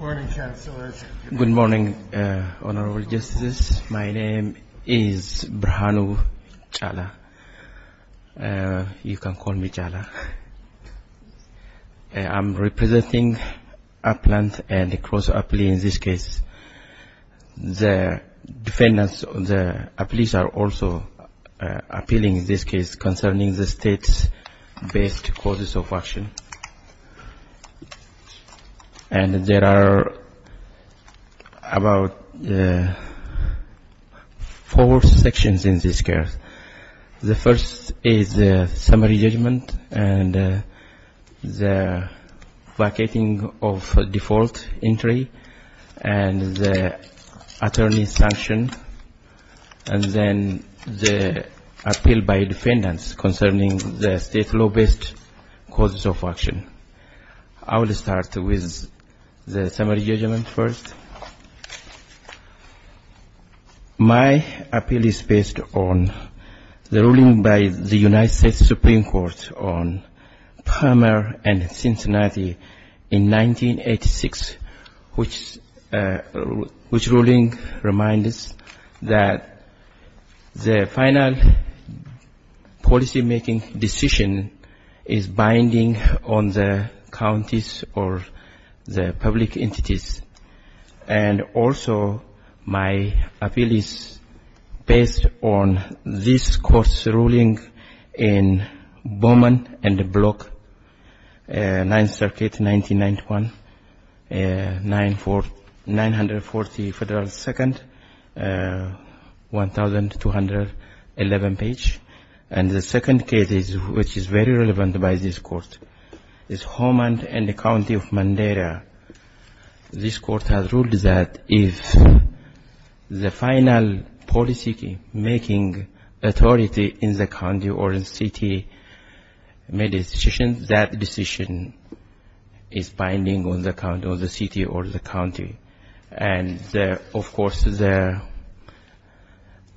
Good morning, Honorable Justices. My name is Brhanu Jala. You can call me Jala. I'm representing Aplans and the cross-Apli in this case. The defendants, the Aplis are also appealing in this case concerning the state-based causes of action. And there are about four sections in this case. The first is the summary judgment and the vacating of default entry and the attorney's sanction and then the appeal by defendants concerning the state law-based causes of action. I will start with the summary judgment first. My appeal is based on the ruling reminders that the final policy-making decision is binding on the counties or the public entities. And also my appeal is based on this court's ruling in Bowman and Block 9th Circuit, 1991, 940 Federal Second, 1211 page. And the second case which is very relevant by this court is Homeland and the County of Mandela. This court has ruled that if the that decision is binding on the city or the county. And of course the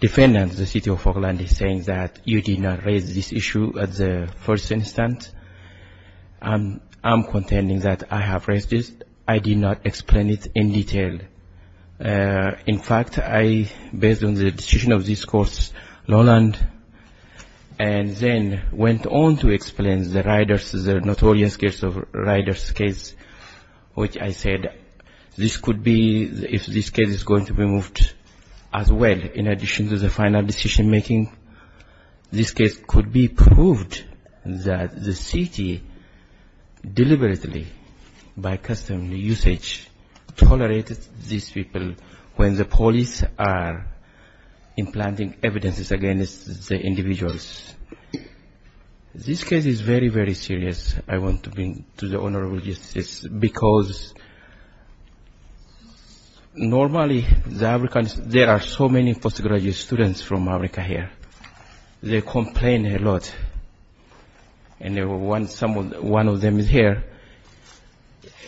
defendants, the city of Homeland, is saying that you did not raise this issue at the first instance. I'm contending that I have raised this. I did not explain it in detail. In fact, I, based on the decision of this court, Lowland, and then went on to explain the Ryders, the notorious case of Ryders case, which I said this could be, if this case is going to be moved as well in addition to the final decision-making, this case could be proved that the city deliberately by custom usage tolerated these people when the police are implanting evidences against the individuals. This case is very, very serious. I want to bring to the Honorable Justice, because normally there are so many postgraduate students from America here. They complain a lot. And one of them is here,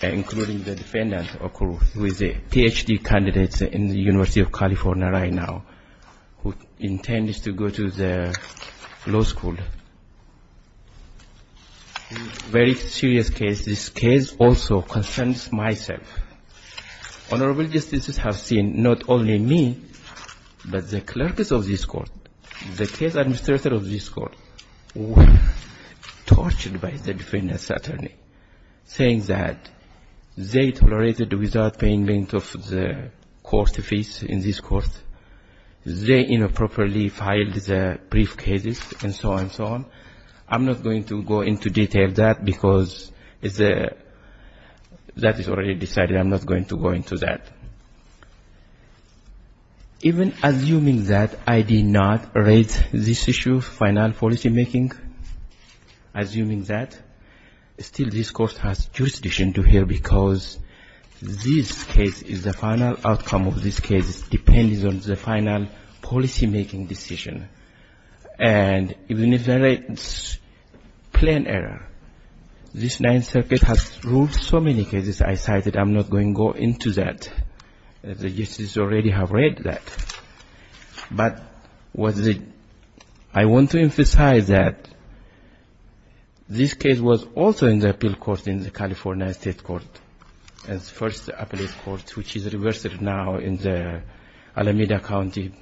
including the defendant, who is a Ph.D. candidate in the University of California right now, who intends to go to the law school. Very serious case. This case also concerns myself. Honorable Justices have seen not only me, but the clerks of this court, the case administrators of this court, who were tortured by the defendant's attorney, saying that they tolerated without payment of the court fees in this court. They, you know, properly filed the brief cases and so on and so on. I'm not going to go into detail that, because that is already decided. I'm not going to go into that. Even assuming that I did not raise this issue of final policymaking, assuming that, still this court has jurisdiction to hear, because this case is the final outcome of this case, depending on the final policymaking decision. And even if there is a plan error, this Ninth Amendment, the justices already have read that. But what the – I want to emphasize that this case was also in the appeal court in the California State Court, as first appellate court, which is reversed now in the Alameda County.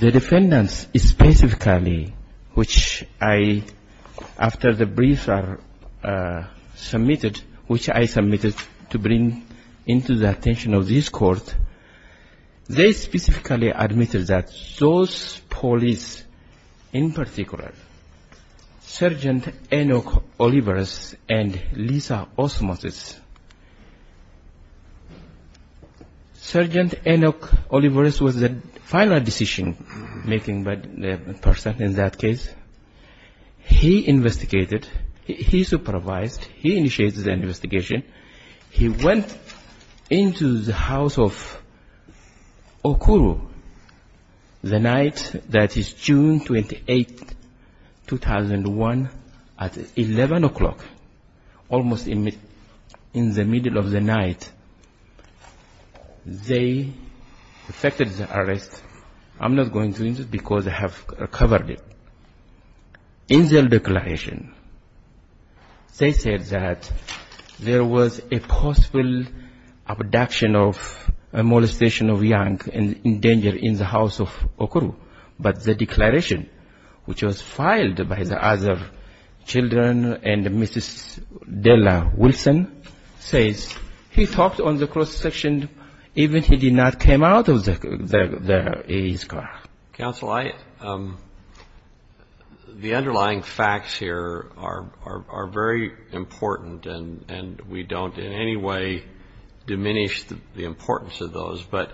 The defendants specifically, which I – after the brief are submitted, which I submitted to bring into the attention of this court, they specifically admitted that those police, in particular, Sergeant Enoch Olivares and Lisa Osmosis, Sergeant Enoch Olivares was the final decision-making person in that case. He investigated, he supervised, he initiated the investigation. He went into the house of Okuru the night that is June 28, 2001, at 11 o'clock, almost in the middle of the night. They effected the arrest. I'm not going into it, because I have covered it. In their declaration, they said that there was a possible abduction of a molestation of young in danger in the house of Okuru. But the declaration, which was filed by the other children and Mrs. Della Wilson, says he talked on the cross-section even if he did not come out of his car. Counsel, I – the underlying facts here are very important, and we don't in any way diminish the importance of those. But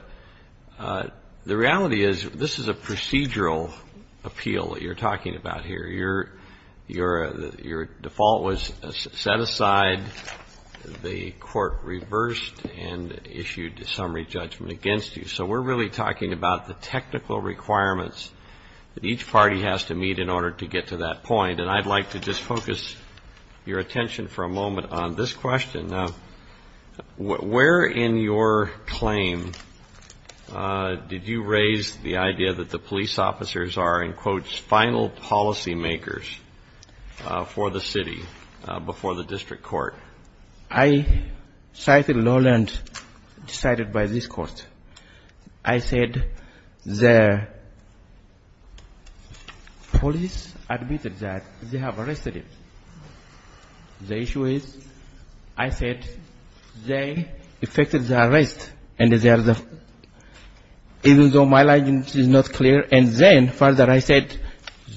the reality is, this is a procedural appeal that you're talking about here. Your default was set aside. The court reversed and issued a summary judgment against you. So we're really talking about the technical requirements that each party has to meet in order to get to that point. And I'd like to just focus your attention for a moment on this question. Where in your claim did you raise the idea that the police officers are, in quotes, final policymakers for the city before the district court? I cited law and decided by this court. I said the police admitted that they have arrested him. The issue is, I said they effected the arrest, and they are the – even though my language is not clear. And then, further, I said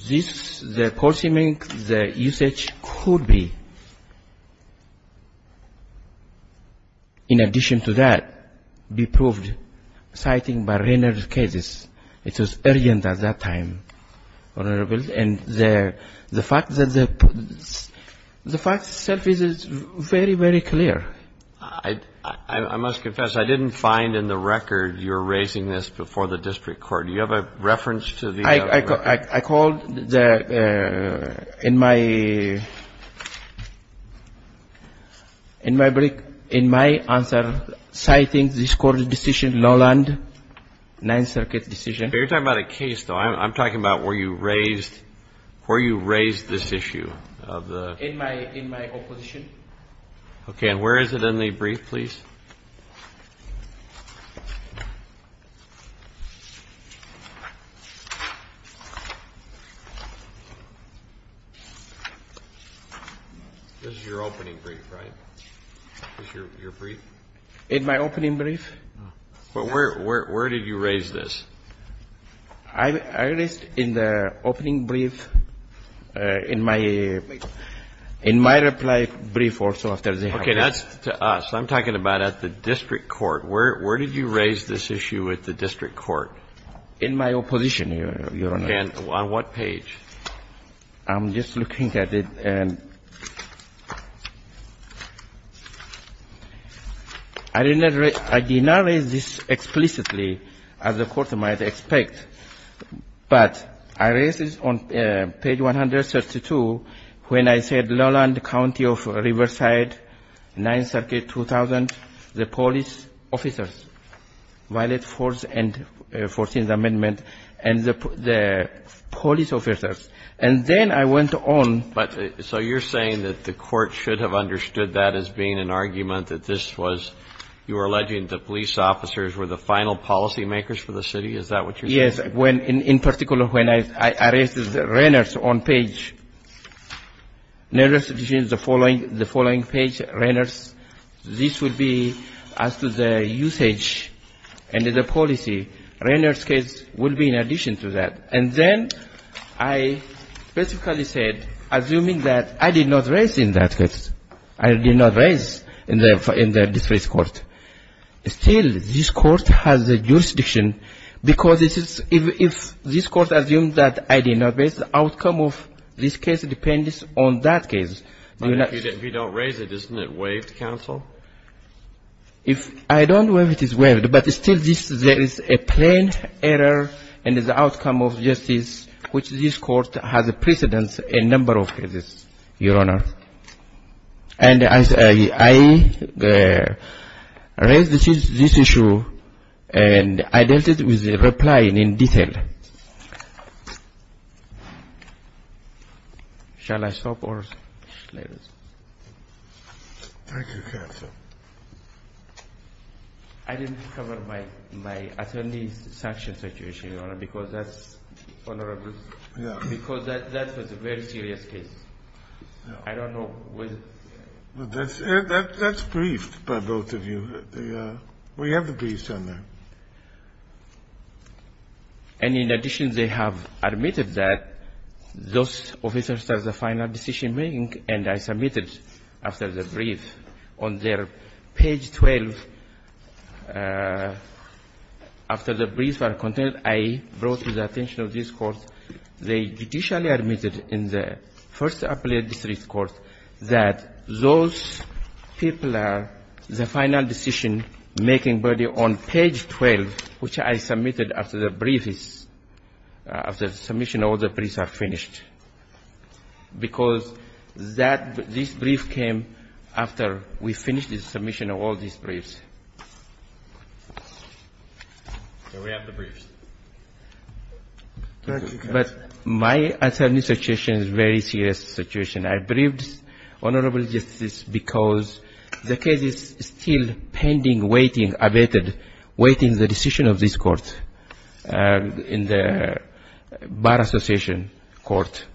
this, the court's image, the usage could be, in addition to that, be proved citing by Rayner's cases. It was urgent at that time, Honorable. And the fact that the – the fact itself is very, very clear. I must confess, I didn't find in the record you're raising this before the district court. Do you have a reference to these other records? I called the – in my answer, citing this court's decision, Lowland, Ninth Circuit's decision. You're talking about a case, though. I'm talking about where you raised – where you raised this issue of the – In my opposition. This is your opening brief, right? This is your brief? In my opening brief. But where did you raise this? I raised in the opening brief, in my reply brief also after the hearing. Okay. That's to us. I'm talking about at the district court. Where did you raise this issue at the district court? In my opposition, Your Honor. And on what page? I'm just looking at it. I didn't raise – I did not raise this explicitly, as the Court might expect. But I raised this on page 132 when I said, Lowland County of Riverside, Ninth Circuit, 2000, the police officers, violent force and 14th Amendment, and the police officers. And then I went on. But – so you're saying that the Court should have understood that as being an argument, that this was – you were alleging the police officers were the final policymakers for the city? Is that what you're saying? Yes. When – in particular, when I raised this, Reynolds on page – the following page, Reynolds, this would be as to the usage and the policy. Reynolds' case would be in addition to that. And then I specifically said, assuming that I did not raise in that case, I did not raise in the district court. Still, this Court has a jurisdiction because this is – if this Court assumes that I did not raise, the outcome of this case depends on that case. But if you don't raise it, isn't it waived, counsel? If I don't waive it, it's waived. But still, there is a plain error in the outcome of justice which this Court has precedence in a number of cases, Your Honor. And I raised this issue and I dealt with the reply in detail. Shall I stop or – Thank you, counsel. I didn't cover my attorney's sanction situation, Your Honor, because that's vulnerable. Yeah. Because that was a very serious case. I don't know whether – That's briefed by both of you. We have the briefs on that. And in addition, they have admitted that those officers are the final decision-making and I submitted after the brief on their page 12. After the brief was contained, I brought to the attention of this Court, they judicially admitted in the first appellate district court that those people are the final decision making body on page 12, which I submitted after the brief is – after the submission of all the briefs are finished. Because that – this brief came after we finished the submission of all these briefs. Here we have the briefs. But my attorney's situation is a very serious situation. I briefed Honorable Justice because the case is still pending, waiting, abated, waiting the decision of this Court in the Bar Association Court.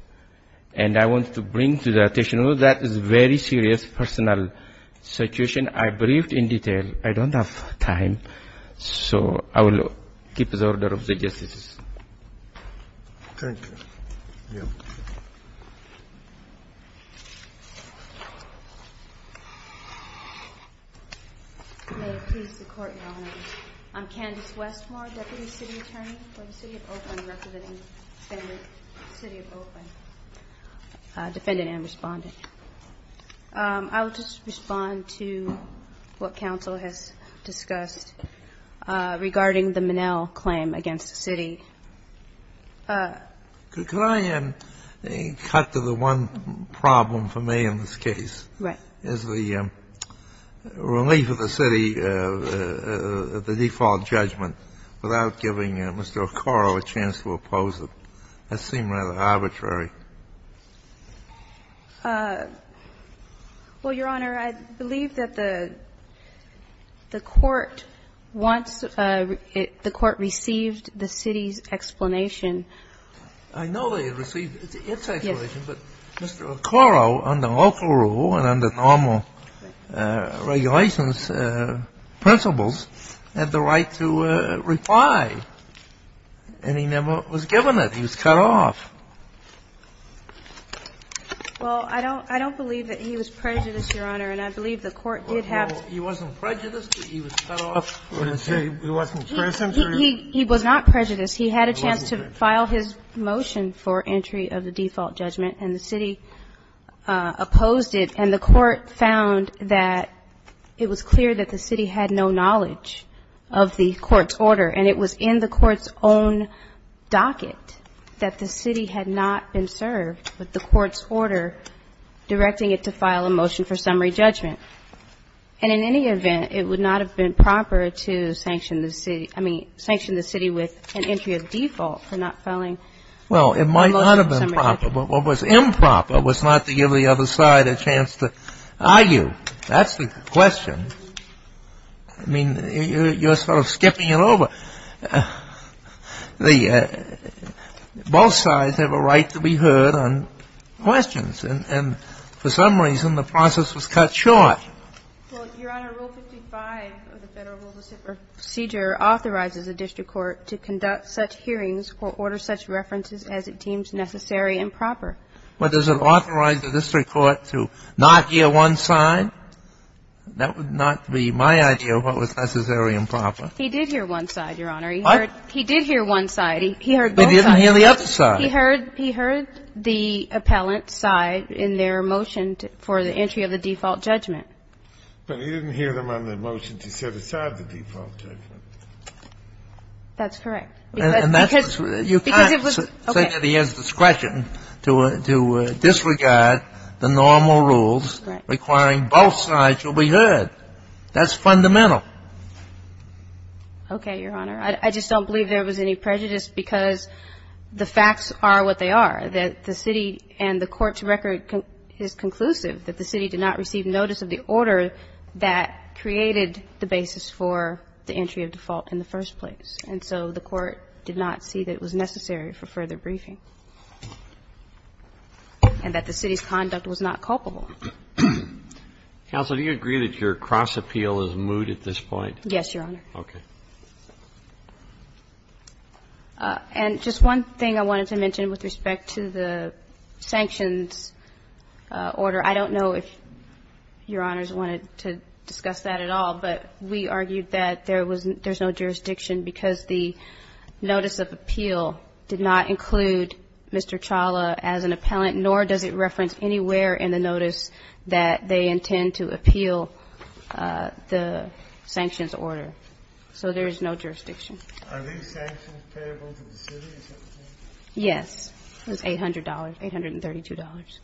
And I want to bring to the attention that that is a very serious personal situation. I briefed in detail. I don't have time, so I will keep the order of the justices. Thank you. May it please the Court, Your Honor. I'm Candace Westmore, deputy city attorney for the City of Oakland, representing the City of Oakland, defendant and respondent. I will just respond to what counsel has discussed regarding the Minnell claim against the city. Can I cut to the one problem for me in this case? Right. Is the relief of the city, the default judgment, without giving Mr. Okoro a chance to oppose it. That seemed rather arbitrary. Well, Your Honor, I believe that the court wants – the court received the city's explanation. I know they received its explanation, but Mr. Okoro, under local rule and under normal regulations, principles, had the right to reply, and he never was given it. He was cut off. Well, I don't – I don't believe that he was prejudiced, Your Honor, and I believe the court did have – Well, he wasn't prejudiced, but he was cut off. He wasn't present? He was not prejudiced. He had a chance to file his motion for entry of the default judgment, and the city opposed it. And the court found that it was clear that the city had no knowledge of the court's order, and it was in the court's own docket that the city had not been served with the court's order directing it to file a motion for summary judgment. And in any event, it would not have been proper to sanction the city – I mean, sanction the city with an entry of default for not filing a motion for summary judgment. Well, it might not have been proper, but what was improper was not to give the other side a chance to argue. That's the question. I mean, you're sort of skipping it over. The – both sides have a right to be heard on questions, and for some reason, the process was cut short. Well, Your Honor, Rule 55 of the Federal Rules of Procedure authorizes a district court to conduct such hearings or order such references as it deems necessary and proper. But does it authorize a district court to not hear one side? That would not be my idea of what was necessary and proper. He did hear one side, Your Honor. What? He did hear one side. He heard both sides. But he didn't hear the other side. He heard the appellant's side in their motion for the entry of the default judgment. But he didn't hear them on the motion to set aside the default judgment. That's correct. Because it was – okay. You can't say that he has discretion to disregard the normal rules requiring both sides to be heard. That's fundamental. Okay, Your Honor. I just don't believe there was any prejudice because the facts are what they are, that the city and the court's record is conclusive that the city did not receive notice of the order that created the basis for the entry of default in the first place. And so the court did not see that it was necessary for further briefing and that the city's conduct was not culpable. Counsel, do you agree that your cross-appeal is moot at this point? Yes, Your Honor. Okay. And just one thing I wanted to mention with respect to the sanctions order. I don't know if Your Honors wanted to discuss that at all, but we argued that there was no jurisdiction because the notice of appeal did not include Mr. Chawla as an appellant, nor does it reference anywhere in the notice that they intend to appeal the sanctions order. So there is no jurisdiction. Are these sanctions payable to the city? Yes. It was $800, $832.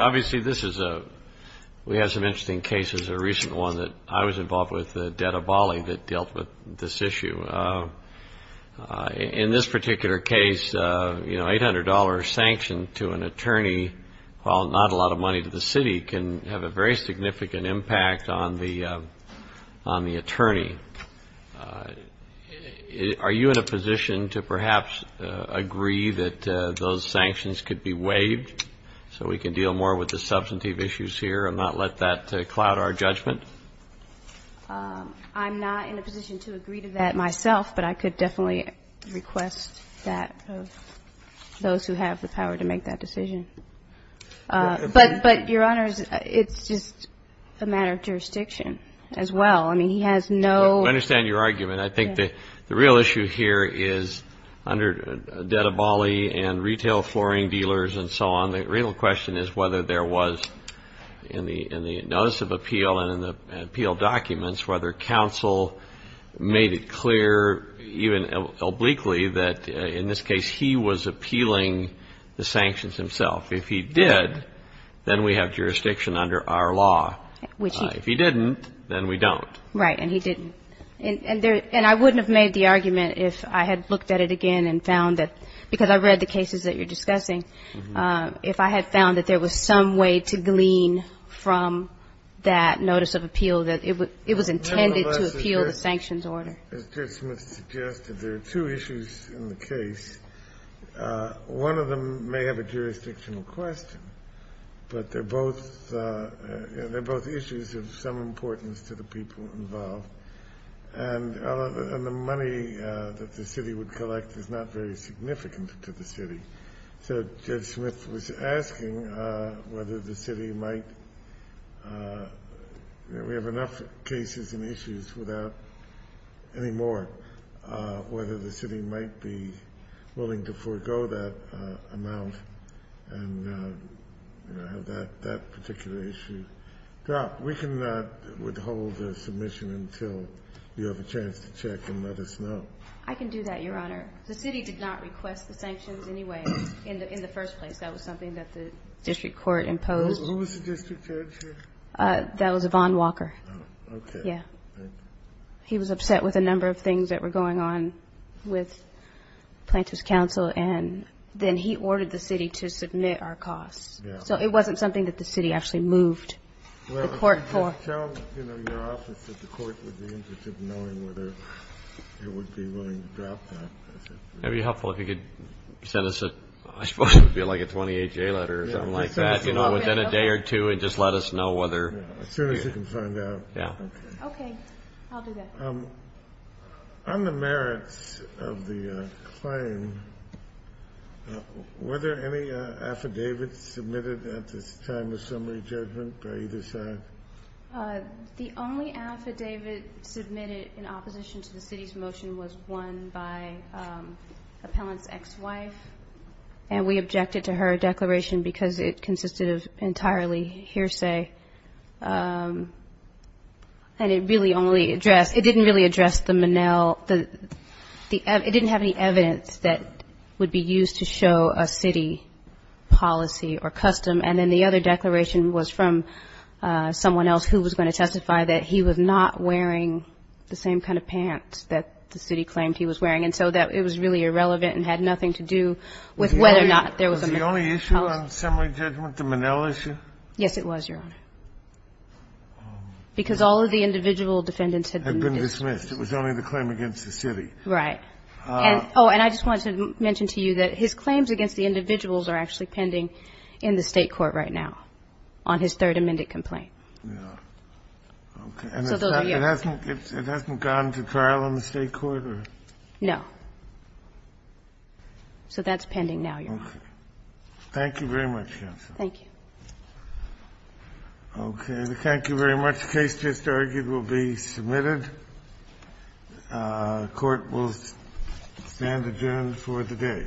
Obviously this is a, we have some interesting cases. A recent one that I was involved with, the debt of Bali that dealt with this issue. In this particular case, you know, $800 sanction to an attorney, while not a lot of money was spent on the attorney. Are you in a position to perhaps agree that those sanctions could be waived so we can deal more with the substantive issues here and not let that cloud our judgment? I'm not in a position to agree to that myself, but I could definitely request that of those who have the power to make that decision. But, Your Honors, it's just a matter of jurisdiction as well. I mean, he has no ---- I understand your argument. I think the real issue here is under debt of Bali and retail flooring dealers and so on, the real question is whether there was in the notice of appeal and in the appeal documents whether counsel made it clear, even obliquely, that in this case he was appealing the sanctions himself. If he did, then we have jurisdiction under our law. If he didn't, then we don't. Right. And he didn't. And I wouldn't have made the argument if I had looked at it again and found that because I read the cases that you're discussing, if I had found that there was some way to glean from that notice of appeal that it was intended to appeal the sanctions order. As Judge Smith suggested, there are two issues in the case. One of them may have a jurisdictional question, but they're both issues of some importance to the people involved. And the money that the city would collect is not very significant to the city. So Judge Smith was asking whether the city might ---- we have enough cases and any more, whether the city might be willing to forego that amount and have that particular issue dropped. We cannot withhold a submission until you have a chance to check and let us know. I can do that, Your Honor. The city did not request the sanctions anyway in the first place. That was something that the district court imposed. Who was the district judge here? That was Yvonne Walker. Okay. Yeah. He was upset with a number of things that were going on with Plaintiff's Counsel, and then he ordered the city to submit our costs. Yeah. So it wasn't something that the city actually moved the court for. Well, just tell your office that the court would be interested in knowing whether it would be willing to drop that. That'd be helpful if you could send us a ---- I suppose it would be like a 28-J letter or something like that. You know, within a day or two and just let us know whether ---- Yeah, as soon as we can find out. Okay. I'll do that. On the merits of the claim, were there any affidavits submitted at this time of summary judgment by either side? The only affidavit submitted in opposition to the city's motion was one by Appellant's ex-wife, and we objected to her declaration because it consisted of entirely hearsay. And it really only addressed ---- it didn't really address the Monell ---- it didn't have any evidence that would be used to show a city policy or custom. And then the other declaration was from someone else who was going to testify that he was not wearing the same kind of pants that the city claimed he was wearing, and so that it was really irrelevant and had nothing to do with whether or not there was a ---- Was the only issue on summary judgment the Monell issue? Yes, it was, Your Honor. Because all of the individual defendants had been dismissed. Had been dismissed. It was only the claim against the city. Right. And, oh, and I just wanted to mention to you that his claims against the individuals are actually pending in the State court right now on his third amended complaint. Yeah. Okay. And it hasn't gone to trial in the State court or ---- No. So that's pending now, Your Honor. Okay. Thank you very much, counsel. Thank you. Okay. Thank you very much. The case just argued will be submitted. Court will stand adjourned for the day.